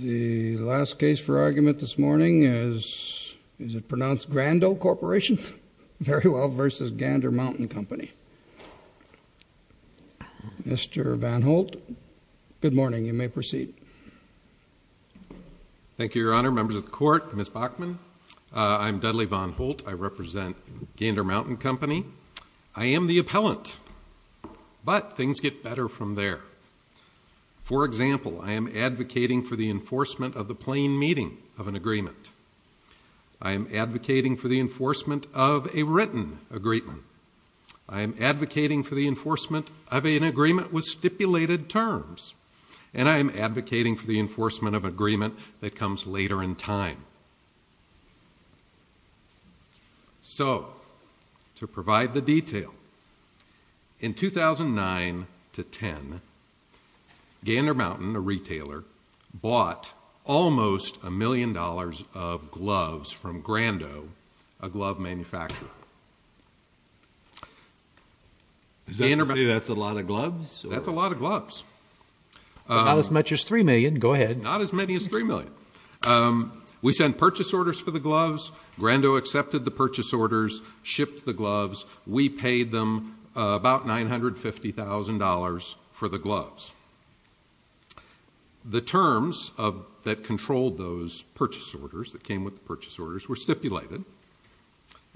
The last case for argument this morning is, is it pronounced Grandoe Corporation very well versus Gander Mountain Company. Mr. Van Holt, good morning. You may proceed. Thank you, Your Honor, members of the court, Ms. Bachman. I'm Dudley Van Holt. I represent Gander Mountain Company. I am the appellant, but things get better from there. For example, I am advocating for the enforcement of the plain meeting of an agreement. I am advocating for the enforcement of a written agreement. I am advocating for the enforcement of an agreement with stipulated terms. And I am advocating for the enforcement of an agreement that comes later in time. So, to provide the detail, in 2009 to 2010, Gander Mountain, a retailer, bought almost a million dollars of gloves from Grandoe, a glove manufacturer. Is that to say that's a lot of gloves? That's a lot of gloves. Not as much as three million, go ahead. Not as many as three million. We sent purchase orders for the gloves. Grandoe accepted the purchase orders, shipped the gloves. We paid them about $950,000 for the gloves. The terms that controlled those purchase orders, that came with the purchase orders, were stipulated.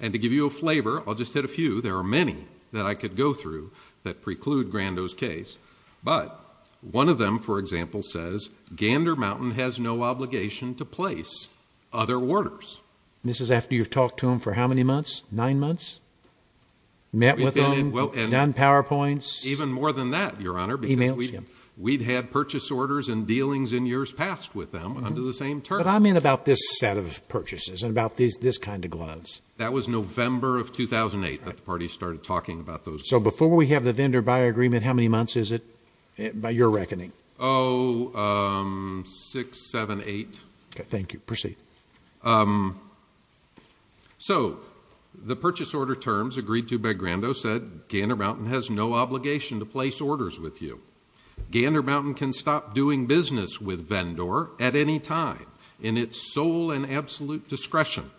And to give you a flavor, I'll just hit a few. There are many that I could go through that preclude Grandoe's case, but one of them, for example, says, Gander Mountain has no obligation to place other orders. This is after you've talked to them for how many months? Nine months? Met with them? Done PowerPoints? Even more than that, Your Honor, because we've had purchase orders and dealings in years past with them under the same terms. But I mean about this set of purchases and about this kind of gloves. That was November of 2008 that the parties started talking about those gloves. So before we have the vendor-buyer agreement, how many months is it, by your reckoning? Oh, six, seven, eight. Thank you. Proceed. So the purchase order terms agreed to by Grandoe said, Gander Mountain has no obligation to place orders with you. Gander Mountain can stop doing business with Vendor at any time, in its sole and absolute discretion,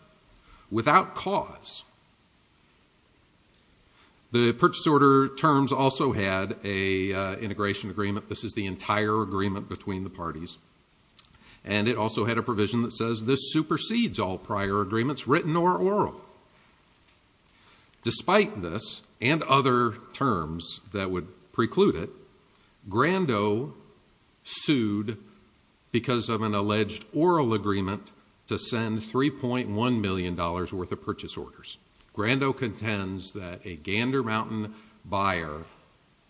without cause. The purchase order terms also had an integration agreement. This is the entire agreement between the parties. And it also had a provision that says this supersedes all prior agreements, written or oral. Despite this and other terms that would preclude it, Grandoe sued because of an alleged oral agreement to send $3.1 million worth of purchase orders. Grandoe contends that a Gander Mountain buyer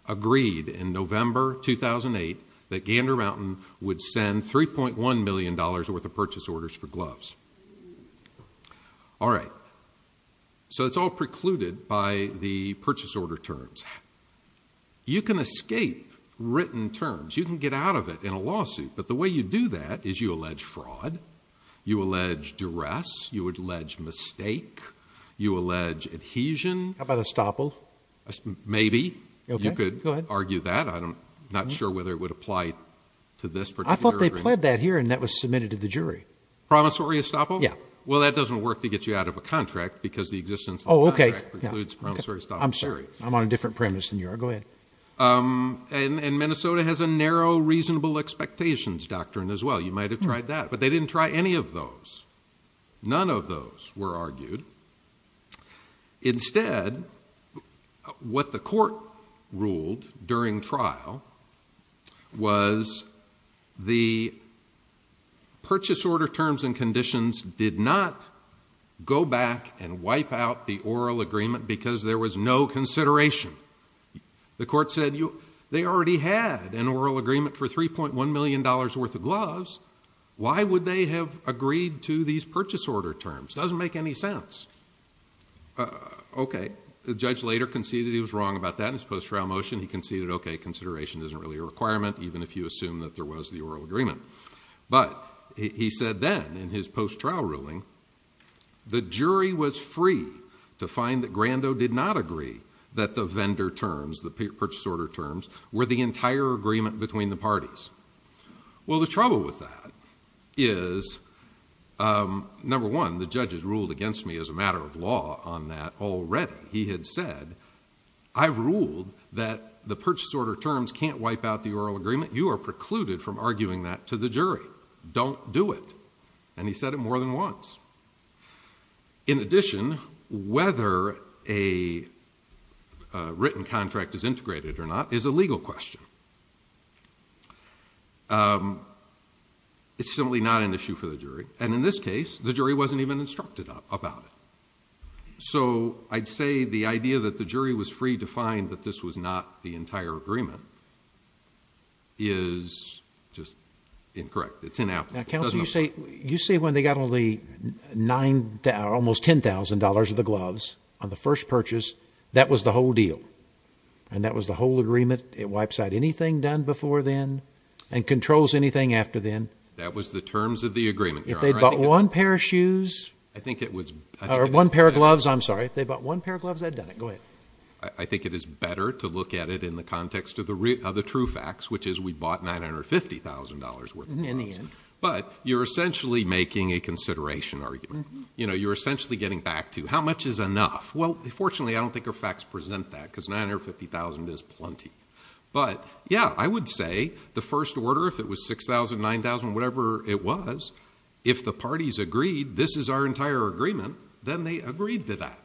agreed in November 2008 that Gander Mountain would send $3.1 million worth of purchase orders for gloves. All right. So it's all precluded by the purchase order terms. You can escape written terms. You can get out of it in a lawsuit. But the way you do that is you allege fraud. You allege duress. You would allege mistake. You allege adhesion. How about estoppel? Maybe. Okay. Go ahead. You could argue that. I'm not sure whether it would apply to this particular agreement. I thought they pled that here, and that was submitted to the jury. Promissory estoppel? Yeah. Well, that doesn't work to get you out of a contract, because the existence of the contract precludes promissory estoppel. Oh, okay. I'm sorry. I'm on a different premise than you are. Go ahead. Okay. And Minnesota has a narrow reasonable expectations doctrine as well. You might have tried that. But they didn't try any of those. None of those were argued. Instead, what the court ruled during trial was the purchase order terms and conditions did not go back and wipe out the oral agreement because there was no consideration. The court said they already had an oral agreement for $3.1 million worth of gloves. Why would they have agreed to these purchase order terms? It doesn't make any sense. Okay. The judge later conceded he was wrong about that in his post-trial motion. He conceded, okay, consideration isn't really a requirement, even if you assume that there was the oral agreement. But he said then, in his post-trial ruling, the jury was free to find that Grandot did not agree that the vendor terms, the purchase order terms, were the entire agreement between the parties. Well, the trouble with that is, number one, the judge has ruled against me as a matter of law on that already. He had said, I've ruled that the purchase order terms can't wipe out the oral agreement. You are precluded from arguing that to the jury. Don't do it. And he said it more than once. In addition, whether a written contract is integrated or not is a legal question. It's simply not an issue for the jury. And in this case, the jury wasn't even instructed about it. So I'd say the idea that the jury was free to find that this was not the entire agreement is just incorrect. It's inapplicable. Now, Counselor, you say when they got almost $10,000 of the gloves on the first purchase, that was the whole deal. And that was the whole agreement. It wipes out anything done before then and controls anything after then. That was the terms of the agreement, Your Honor. If they'd bought one pair of shoes. I think it was. Or one pair of gloves. I'm sorry. If they bought one pair of gloves, that'd done it. Go ahead. I think it is better to look at it in the context of the true facts, which is we bought $950,000 worth of gloves. But you're essentially making a consideration argument. You know, you're essentially getting back to, how much is enough? Well, fortunately, I don't think our facts present that, because $950,000 is plenty. But yeah, I would say the first order, if it was $6,000, $9,000, whatever it was, if the parties agreed, this is our entire agreement, then they agreed to that.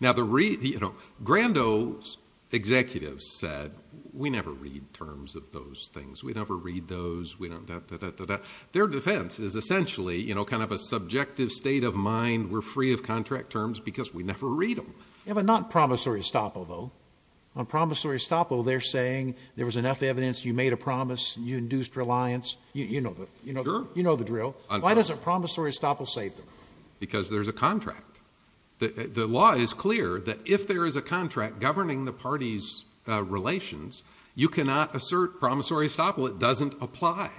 Now, Grando's executives said, we never read terms of those things. We never read those. Their defense is essentially, you know, kind of a subjective state of mind, we're free of contract terms because we never read them. Yeah, but not promissory estoppel, though. On promissory estoppel, they're saying there was enough evidence, you made a promise, you induced reliance. You know the drill. You know the drill. Why doesn't promissory estoppel save them? Because there's a contract. The law is clear that if there is a contract governing the parties' relations, you cannot assert promissory estoppel, it doesn't apply.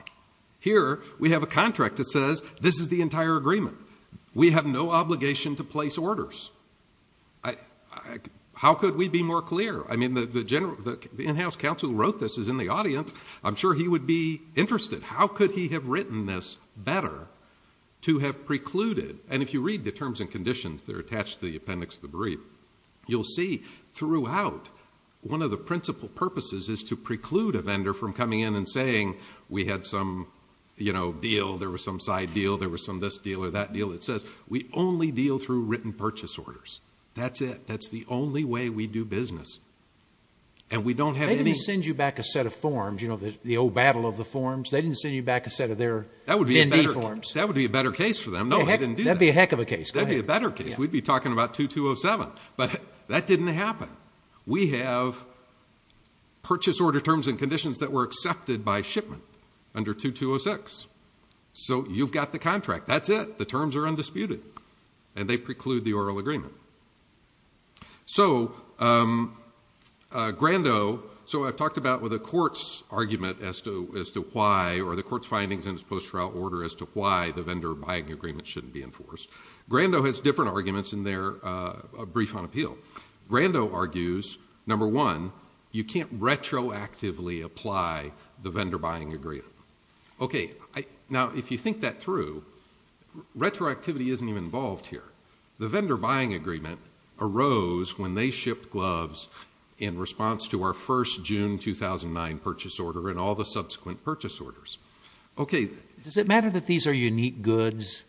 Here we have a contract that says, this is the entire agreement. We have no obligation to place orders. How could we be more clear? I mean, the in-house counsel who wrote this is in the audience. I'm sure he would be interested. How could he have written this better to have precluded? And if you read the terms and conditions that are attached to the appendix of the brief, you'll see throughout, one of the principal purposes is to preclude a vendor from coming in and saying, we had some deal, there was some side deal, there was some this deal or that deal. It says, we only deal through written purchase orders. That's it. That's the only way we do business. And we don't have any- They didn't send you back a set of forms, you know, the old battle of the forms. They didn't send you back a set of their MND forms. That would be a better case for them. No, they didn't do that. That'd be a heck of a case. That'd be a better case. We'd be talking about 2207. But that didn't happen. We have purchase order terms and conditions that were accepted by shipment under 2206. So you've got the contract. That's it. The terms are undisputed. And they preclude the oral agreement. So Grandot, so I've talked about with a court's argument as to why, or the court's findings in its post-trial order as to why the vendor buying agreement shouldn't be enforced. Grandot has different arguments in their brief on appeal. Grandot argues, number one, you can't retroactively apply the vendor buying agreement. Okay. Now, if you think that through, retroactivity isn't even involved here. The vendor buying agreement arose when they shipped gloves in response to our first June 2009 purchase order and all the subsequent purchase orders. Okay. Does it matter that these are unique goods?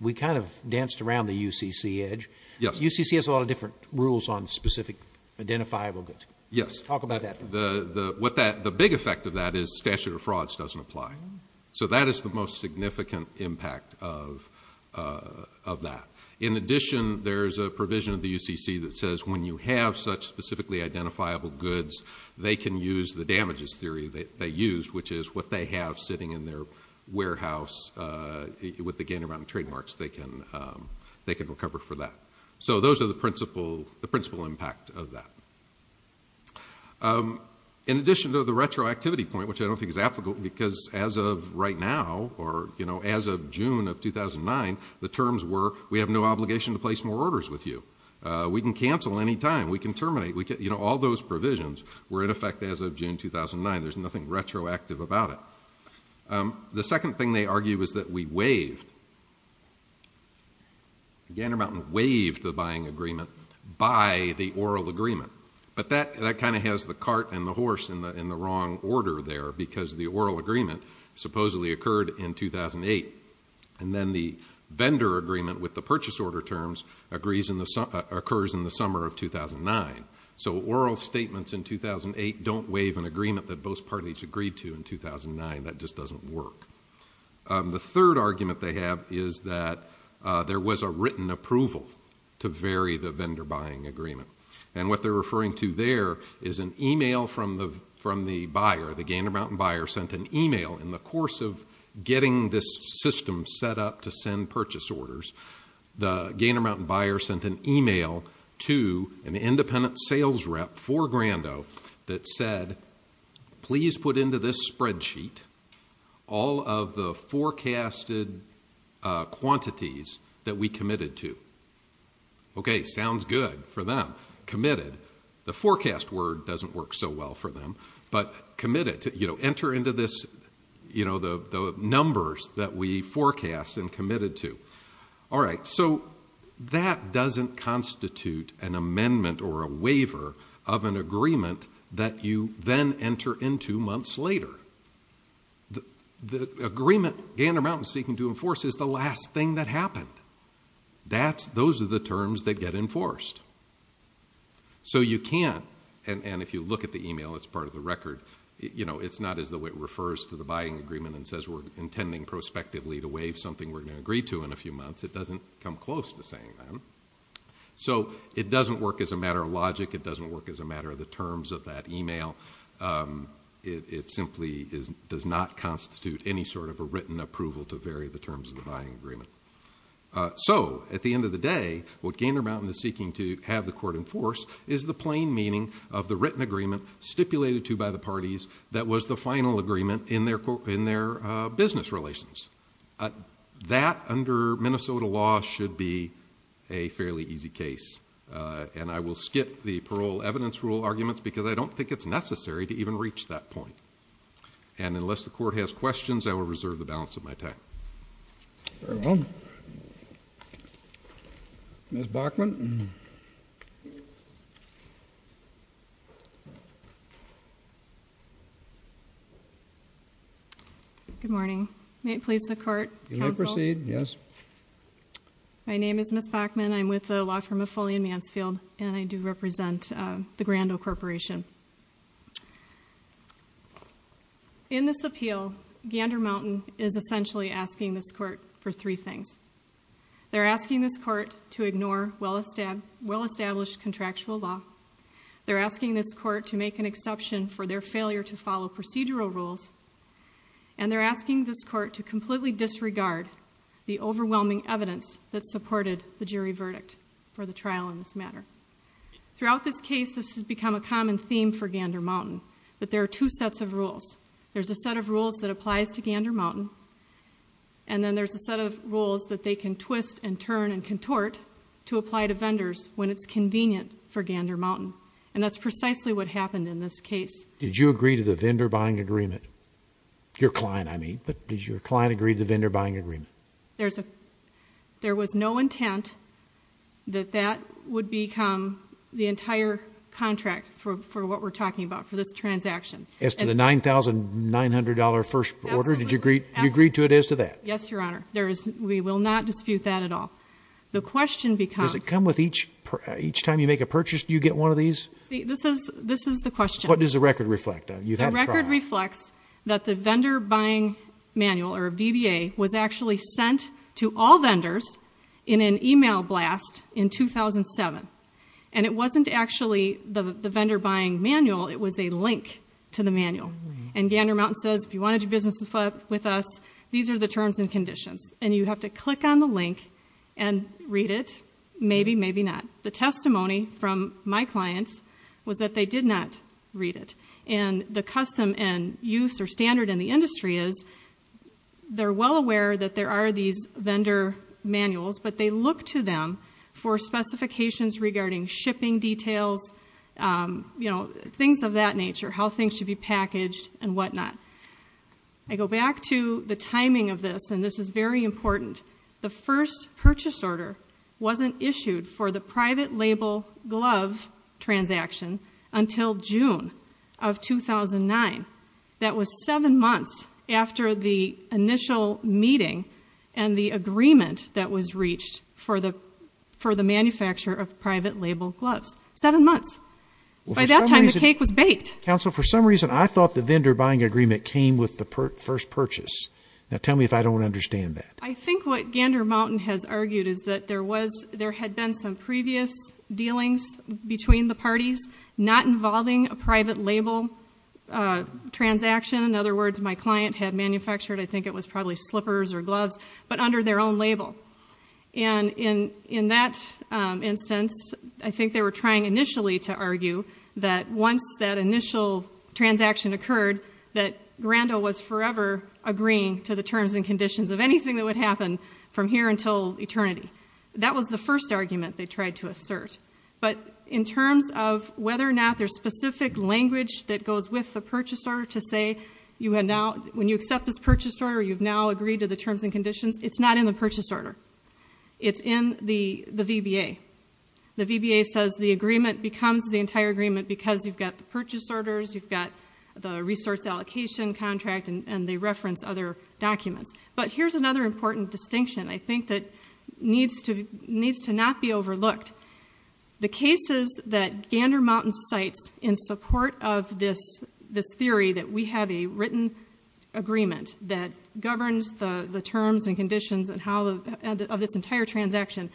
We kind of danced around the UCC edge. Yes. UCC has a lot of different rules on specific identifiable goods. Yes. Talk about that. The big effect of that is statute of frauds doesn't apply. So that is the most significant impact of that. In addition, there's a provision of the UCC that says when you have such specifically identifiable goods, they can use the damages theory that they used, which is what they have sitting in their warehouse with the Gander Mountain trademarks, they can recover for that. So those are the principal impact of that. In addition to the retroactivity point, which I don't think is applicable because as of right now or, you know, as of June of 2009, the terms were we have no obligation to place more orders with you. We can cancel any time. We can terminate. We can, you know, all those provisions were in effect as of June 2009. There's nothing retroactive about it. The second thing they argue is that we waived, Gander Mountain waived the buying agreement by the oral agreement. But that kind of has the cart and the horse in the wrong order there because the oral agreement supposedly occurred in 2008. And then the vendor agreement with the purchase order terms occurs in the summer of 2009. So oral statements in 2008 don't waive an agreement that both parties agreed to in 2009. That just doesn't work. The third argument they have is that there was a written approval to vary the vendor buying agreement. And what they're referring to there is an email from the buyer. The Gander Mountain buyer sent an email in the course of getting this system set up to send purchase orders. The Gander Mountain buyer sent an email to an independent sales rep for Grando that said, please put into this spreadsheet all of the forecasted quantities that we committed to. Okay, sounds good for them. Committed. The forecast word doesn't work so well for them. But committed. Enter into this, you know, the numbers that we forecast and committed to. All right. So that doesn't constitute an amendment or a waiver of an agreement that you then enter into months later. The agreement Gander Mountain is seeking to enforce is the last thing that happened. Those are the terms that get enforced. So you can't, and if you look at the email, it's part of the record, you know, it's not as though it refers to the buying agreement and says we're intending prospectively to waive something we're going to agree to in a few months. It doesn't come close to saying that. So it doesn't work as a matter of logic. It doesn't work as a matter of the terms of that email. It simply does not constitute any sort of a written approval to vary the terms of the buying agreement. So, at the end of the day, what Gander Mountain is seeking to have the court enforce is the plain meaning of the written agreement stipulated to by the parties that was the final agreement in their business relations. That under Minnesota law should be a fairly easy case. And I will skip the parole evidence rule arguments because I don't think it's necessary to even reach that point. And unless the court has questions, I will reserve the balance of my time. Very well. Ms. Bachman. Good morning. May it please the court, counsel? You may proceed, yes. My name is Ms. Bachman. I'm with the law firm of Foley and Mansfield and I do represent the Grand Ole Corporation. In this appeal, Gander Mountain is essentially asking this court for three things. They're asking this court to ignore well-established contractual law. They're asking this court to make an exception for their failure to follow procedural rules. And they're asking this court to completely disregard the overwhelming evidence that supported the jury verdict for the trial in this matter. Throughout this case, this has become a common theme for Gander Mountain. That there are two sets of rules. There's a set of rules that applies to Gander Mountain. And then there's a set of rules that they can twist and turn and contort to apply to vendors when it's convenient for Gander Mountain. And that's precisely what happened in this case. Did you agree to the vendor buying agreement? Your client, I mean. But did your client agree to the vendor buying agreement? There was no intent that that would become the entire contract for what we're talking about. For this transaction. As to the $9,900 first order? Absolutely. You agreed to it as to that? Yes, Your Honor. We will not dispute that at all. Does it come with each time you make a purchase, do you get one of these? See, this is the question. What does the record reflect? The record reflects that the vendor buying manual, or VBA, was actually sent to all vendors in an email blast in 2007. And it wasn't actually the vendor buying manual. It was a link to the manual. And Gander Mountain says, if you want to do business with us, these are the terms and conditions. And you have to click on the link and read it. Maybe, maybe not. The testimony from my clients was that they did not read it. And the custom and use or standard in the industry is they're well aware that there are these vendor manuals, but they look to them for specifications regarding shipping details, things of that nature, how things should be packaged and whatnot. I go back to the timing of this, and this is very important. The first purchase order wasn't issued for the private label glove transaction until June of 2009. That was seven months after the initial meeting and the agreement that was reached for the manufacture of private label gloves. Seven months. By that time, the cake was baked. Counsel, for some reason, I thought the vendor buying agreement came with the first purchase. Now, tell me if I don't understand that. I think what Gander Mountain has argued is that there had been some previous dealings between the parties not involving a private label transaction. In other words, my client had manufactured, I think it was probably slippers or gloves, but under their own label. And in that instance, I think they were trying initially to argue that once that initial transaction occurred, that Grando was forever agreeing to the terms and conditions of anything that would happen from here until eternity. That was the first argument they tried to assert. But in terms of whether or not there's specific language that goes with the purchase order to say, when you accept this purchase order, you've now agreed to the terms and conditions, it's not in the purchase order. It's in the VBA. The VBA says the agreement becomes the entire agreement because you've got the purchase orders, you've got the resource allocation contract, and they reference other documents. But here's another important distinction I think that needs to not be overlooked. The cases that Gander Mountain cites in support of this theory that we have a written agreement that governs the terms and conditions of this entire transaction,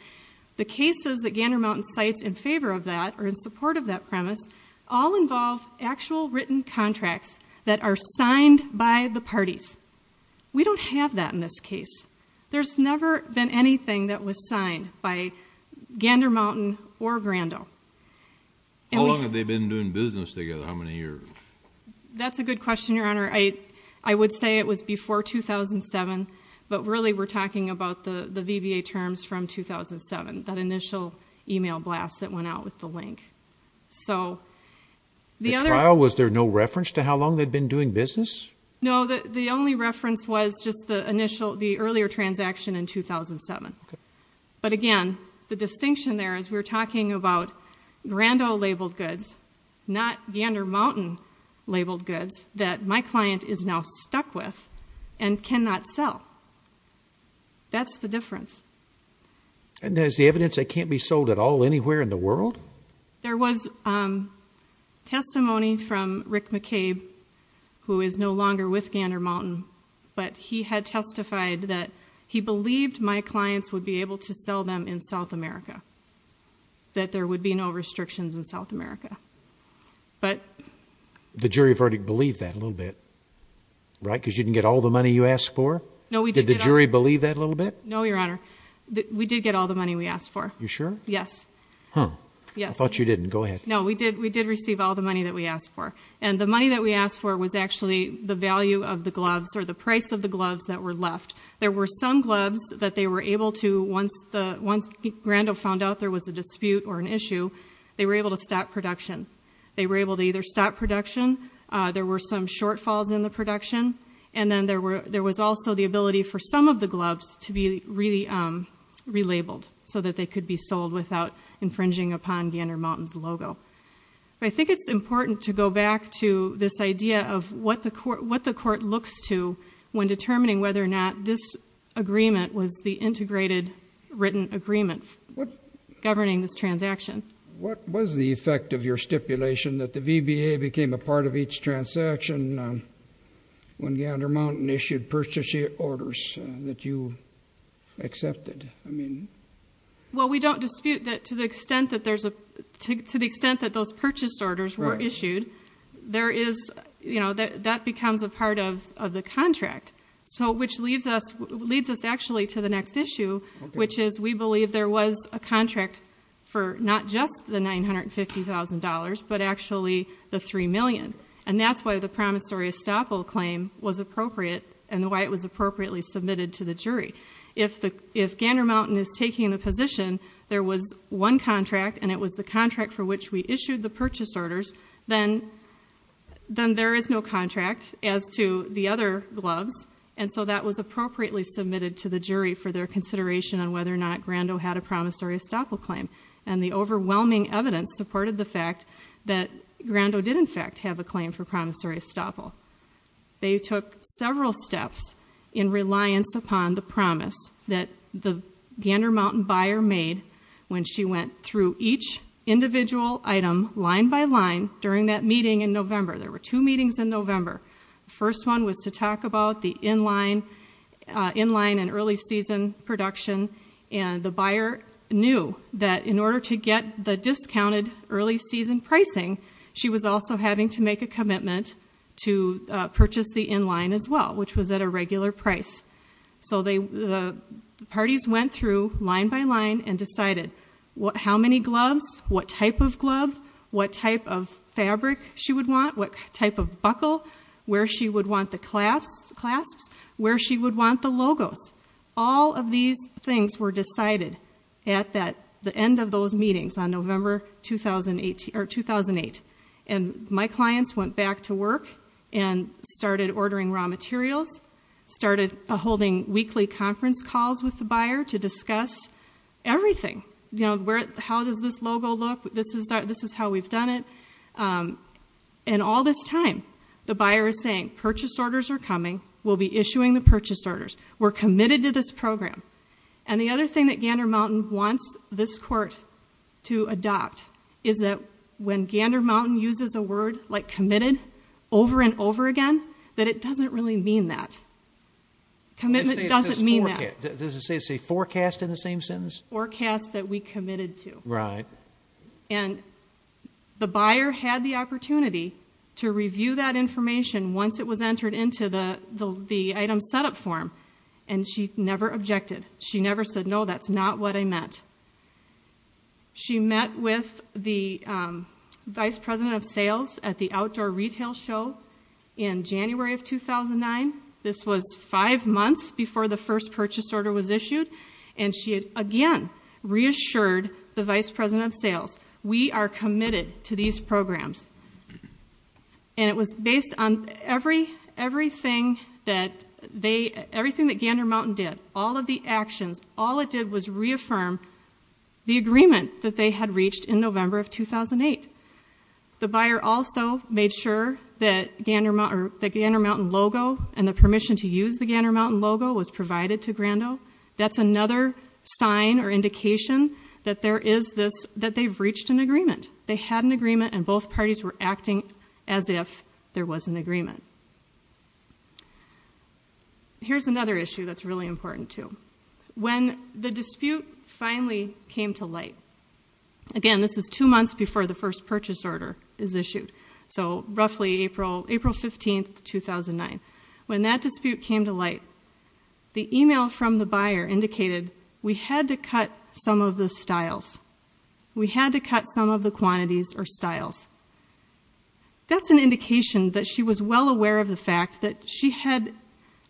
the cases that Gander Mountain cites in favor of that or in support of that premise all involve actual written contracts that are signed by the parties. We don't have that in this case. There's never been anything that was signed by Gander Mountain or Grando. How long have they been doing business together? How many years? That's a good question, Your Honor. I would say it was before 2007, but really we're talking about the VBA terms from 2007, that initial email blast that went out with the link. The trial, was there no reference to how long they'd been doing business? No, the only reference was just the earlier transaction in 2007. But again, the distinction there is we're talking about Grando-labeled goods, not Gander Mountain-labeled goods that my client is now stuck with and cannot sell. That's the difference. And there's the evidence they can't be sold at all anywhere in the world? There was testimony from Rick McCabe, who is no longer with Gander Mountain, but he had testified that he believed my clients would be able to sell them in South America, that there would be no restrictions in South America. The jury verdict believed that a little bit, right? Because you didn't get all the money you asked for? No, we did. Did the jury believe that a little bit? No, Your Honor. We did get all the money we asked for. You sure? Yes. I thought you didn't. Go ahead. No, we did receive all the money that we asked for. And the money that we asked for was actually the value of the gloves, or the price of the gloves that were left. There were some gloves that they were able to, once Grando found out there was a dispute or an issue, they were able to stop production. They were able to either stop production, there were some shortfalls in the production, and then there was also the ability for some of the gloves to be relabeled so that they could be sold without infringing upon Gander Mountain's logo. But I think it's important to go back to this idea of what the court looks to when determining whether or not this agreement was the integrated written agreement governing this transaction. What was the effect of your stipulation that the VBA became a part of each transaction when Gander Mountain issued purchase orders that you accepted? Well, we don't dispute that to the extent that those purchase orders were issued, that becomes a part of the contract, which leads us actually to the next issue, which is we believe there was a contract for not just the $950,000, but actually the $3 million. And that's why the promissory estoppel claim was appropriate and why it was appropriately submitted to the jury. If Gander Mountain is taking the position there was one contract and it was the contract for which we issued the purchase orders, then there is no contract as to the other gloves, and so that was appropriately submitted to the jury for their consideration on whether or not Grando had a promissory estoppel claim. And the overwhelming evidence supported the fact that Grando did, in fact, have a claim for promissory estoppel. They took several steps in reliance upon the promise that the Gander Mountain buyer made when she went through each individual item line by line during that meeting in November. There were two meetings in November. The first one was to talk about the in-line and early season production, and the buyer knew that in order to get the discounted early season pricing, she was also having to make a commitment to purchase the in-line as well, which was at a regular price. So the parties went through line by line and decided how many gloves, what type of glove, what type of fabric she would want, what type of buckle, where she would want the clasps, where she would want the logos. All of these things were decided at the end of those meetings on November 2008. And my clients went back to work and started ordering raw materials, started holding weekly conference calls with the buyer to discuss everything. You know, how does this logo look? This is how we've done it. And all this time, the buyer is saying, purchase orders are coming. We'll be issuing the purchase orders. We're committed to this program. And the other thing that Gander Mountain wants this court to adopt is that when Gander Mountain uses a word like committed over and over again, that it doesn't really mean that. Commitment doesn't mean that. Does it say forecast in the same sentence? Forecast that we committed to. Right. And the buyer had the opportunity to review that information once it was entered into the item setup form, and she never objected. She never said, no, that's not what I meant. She met with the vice president of sales at the outdoor retail show in January of 2009. This was five months before the first purchase order was issued, and she again reassured the vice president of sales, we are committed to these programs. And it was based on everything that Gander Mountain did, all of the actions, all it did was reaffirm the agreement that they had reached in November of 2008. The buyer also made sure that the Gander Mountain logo and the permission to use the Gander Mountain logo was provided to Grando. That's another sign or indication that they've reached an agreement. They had an agreement, and both parties were acting as if there was an agreement. Here's another issue that's really important too. When the dispute finally came to light, again, this is two months before the first purchase order is issued, so roughly April 15, 2009. When that dispute came to light, the email from the buyer indicated, we had to cut some of the styles. We had to cut some of the quantities or styles. That's an indication that she was well aware of the fact that she had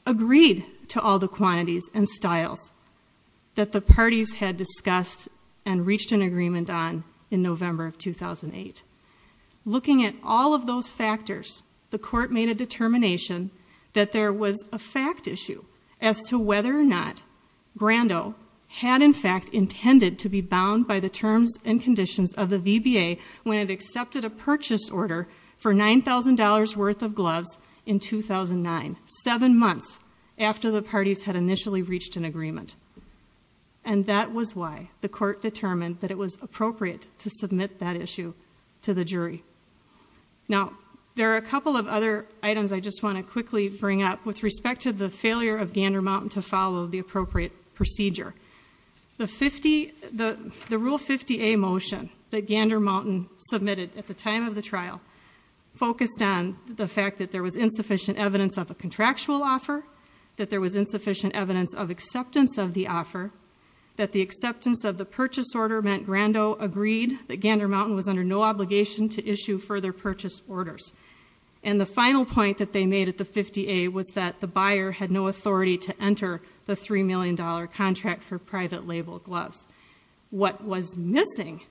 agreed to all the quantities and styles that the parties had discussed and reached an agreement on in November of 2008. Looking at all of those factors, the court made a determination that there was a fact issue as to whether or not Grando had in fact intended to be bound by the terms and conditions of the VBA when it accepted a purchase order for $9,000 worth of gloves in 2009, seven months after the parties had initially reached an agreement. And that was why the court determined that it was appropriate to submit that issue to the jury. Now, there are a couple of other items I just want to quickly bring up with respect to the failure of Gander Mountain to follow the appropriate procedure. The Rule 50A motion that Gander Mountain submitted at the time of the trial focused on the fact that there was insufficient evidence of a contractual offer, that there was insufficient evidence of acceptance of the offer, that the acceptance of the purchase order meant Grando agreed that Gander Mountain was under no obligation to issue further purchase orders. And the final point that they made at the 50A was that the buyer had no authority to enter the $3 million contract for private label gloves. What was missing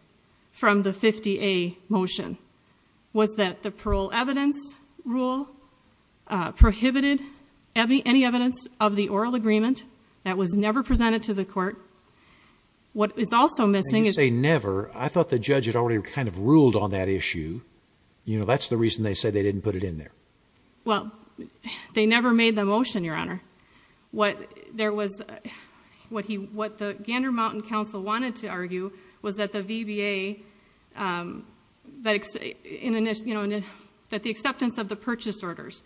from the 50A motion was that the parole evidence rule prohibited any evidence of the oral agreement. That was never presented to the court. What is also missing is... I didn't say never. I thought the judge had already kind of ruled on that issue. You know, that's the reason they said they didn't put it in there. Well, they never made the motion, Your Honor. What the Gander Mountain counsel wanted to argue was that the VBA... that the acceptance of the purchase orders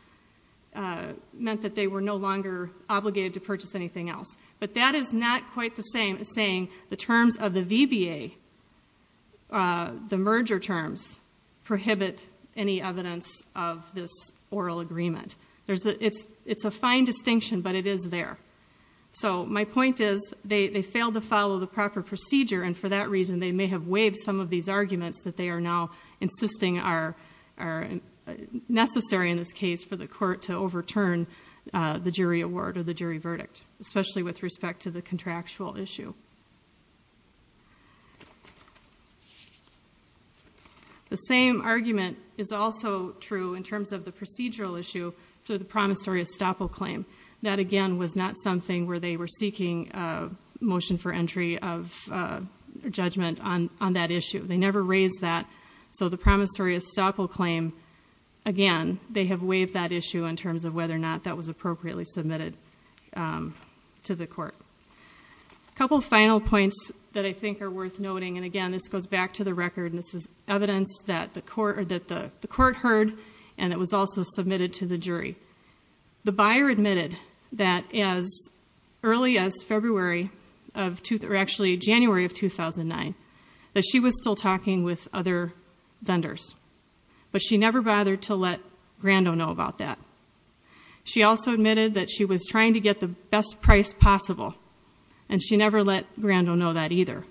meant that they were no longer obligated to purchase anything else. But that is not quite the same as saying the terms of the VBA, the merger terms, prohibit any evidence of this oral agreement. It's a fine distinction, but it is there. So my point is they failed to follow the proper procedure, and for that reason they may have waived some of these arguments that they are now insisting are necessary in this case for the court to overturn the jury award or the jury verdict, especially with respect to the contractual issue. The same argument is also true in terms of the procedural issue for the promissory estoppel claim. That, again, was not something where they were seeking a motion for entry of judgment on that issue. They never raised that. So the promissory estoppel claim, again, they have waived that issue in terms of whether or not that was appropriately submitted to the court. A couple of final points that I think are worth noting, and, again, this goes back to the record, and this is evidence that the court heard and that was also submitted to the jury. The buyer admitted that as early as February, or actually January of 2009, that she was still talking with other vendors, but she never bothered to let Grando know about that. She also admitted that she was trying to get the best price possible, and she never let Grando know that either.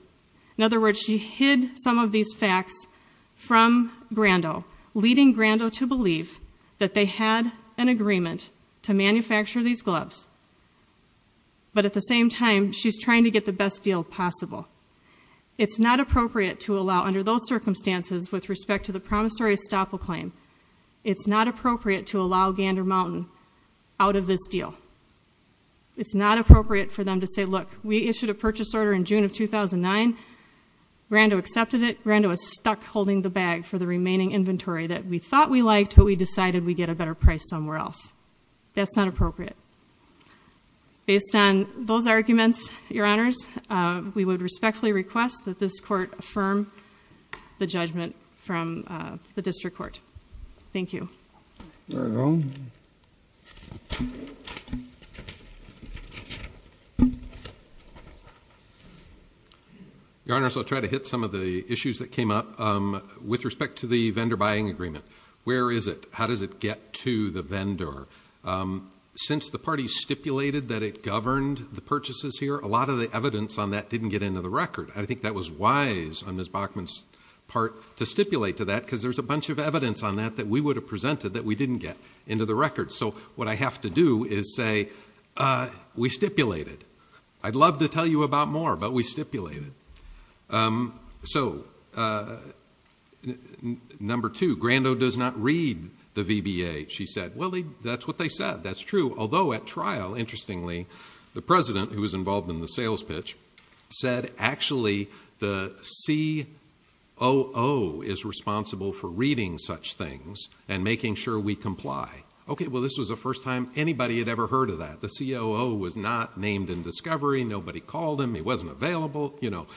In other words, she hid some of these facts from Grando, leading Grando to believe that they had an agreement to manufacture these gloves. But at the same time, she's trying to get the best deal possible. It's not appropriate to allow, under those circumstances, with respect to the promissory estoppel claim, it's not appropriate to allow Gander Mountain out of this deal. It's not appropriate for them to say, look, we issued a purchase order in June of 2009, Grando accepted it, Grando is stuck holding the bag for the remaining inventory that we thought we liked, but we decided we'd get a better price somewhere else. That's not appropriate. Based on those arguments, Your Honors, we would respectfully request that this court affirm the judgment from the district court. Thank you. Your Honors, I'll try to hit some of the issues that came up. With respect to the vendor buying agreement, where is it? How does it get to the vendor? Since the party stipulated that it governed the purchases here, a lot of the evidence on that didn't get into the record. I think that was wise on Ms. Bachman's part to stipulate to that because there's a bunch of evidence on that that we would have presented that we didn't get into the record. So what I have to do is say, we stipulated. I'd love to tell you about more, but we stipulated. So, number two, Grando does not read the VBA, she said. Well, that's what they said, that's true. Although at trial, interestingly, the president, who was involved in the sales pitch, said actually the COO is responsible for reading such things and making sure we comply. Okay, well, this was the first time anybody had ever heard of that. The COO was not named in discovery, nobody called him, he wasn't available, you know.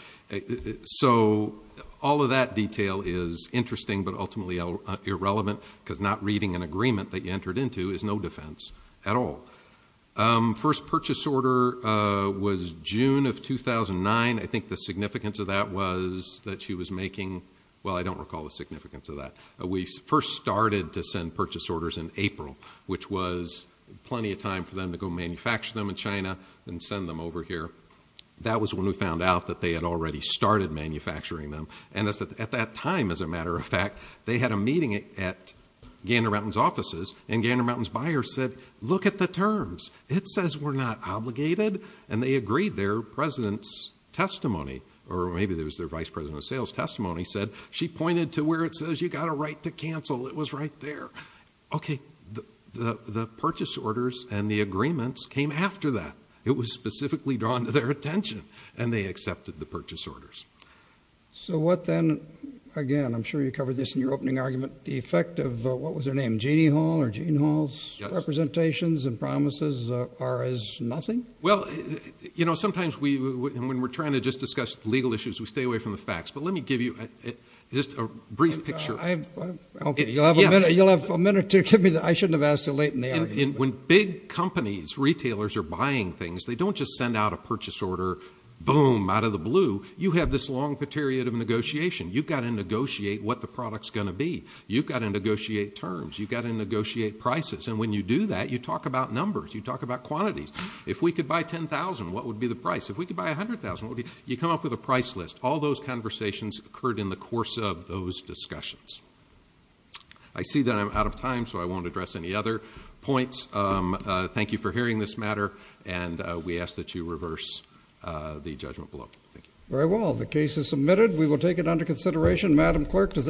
So all of that detail is interesting, but ultimately irrelevant because not reading an agreement that you entered into is no defense at all. First purchase order was June of 2009. I think the significance of that was that she was making, well, I don't recall the significance of that. We first started to send purchase orders in April, which was plenty of time for them to go manufacture them in China and send them over here. That was when we found out that they had already started manufacturing them. And at that time, as a matter of fact, they had a meeting at Gander Mountain's offices, and Gander Mountain's buyer said, look at the terms. It says we're not obligated. And they agreed their president's testimony, or maybe it was their vice president of sales testimony, said she pointed to where it says you've got a right to cancel. It was right there. Okay, the purchase orders and the agreements came after that. It was specifically drawn to their attention, and they accepted the purchase orders. So what then, again, I'm sure you covered this in your opening argument, the effect of what was her name, Jeanne Hall, or Jeanne Hall's representations and promises are as nothing? Well, you know, sometimes when we're trying to just discuss legal issues, we stay away from the facts. But let me give you just a brief picture. Okay, you'll have a minute to give me that. I shouldn't have asked you late in the argument. When big companies, retailers, are buying things, they don't just send out a purchase order, boom, out of the blue. You have this long period of negotiation. You've got to negotiate what the product's going to be. You've got to negotiate terms. You've got to negotiate prices. And when you do that, you talk about numbers. You talk about quantities. If we could buy 10,000, what would be the price? If we could buy 100,000, what would it be? You come up with a price list. All those conversations occurred in the course of those discussions. I see that I'm out of time, so I won't address any other points. Thank you for hearing this matter, and we ask that you reverse the judgment below. Thank you. Very well. The case is submitted. We will take it under consideration. Madam Clerk, does anyone have any questions?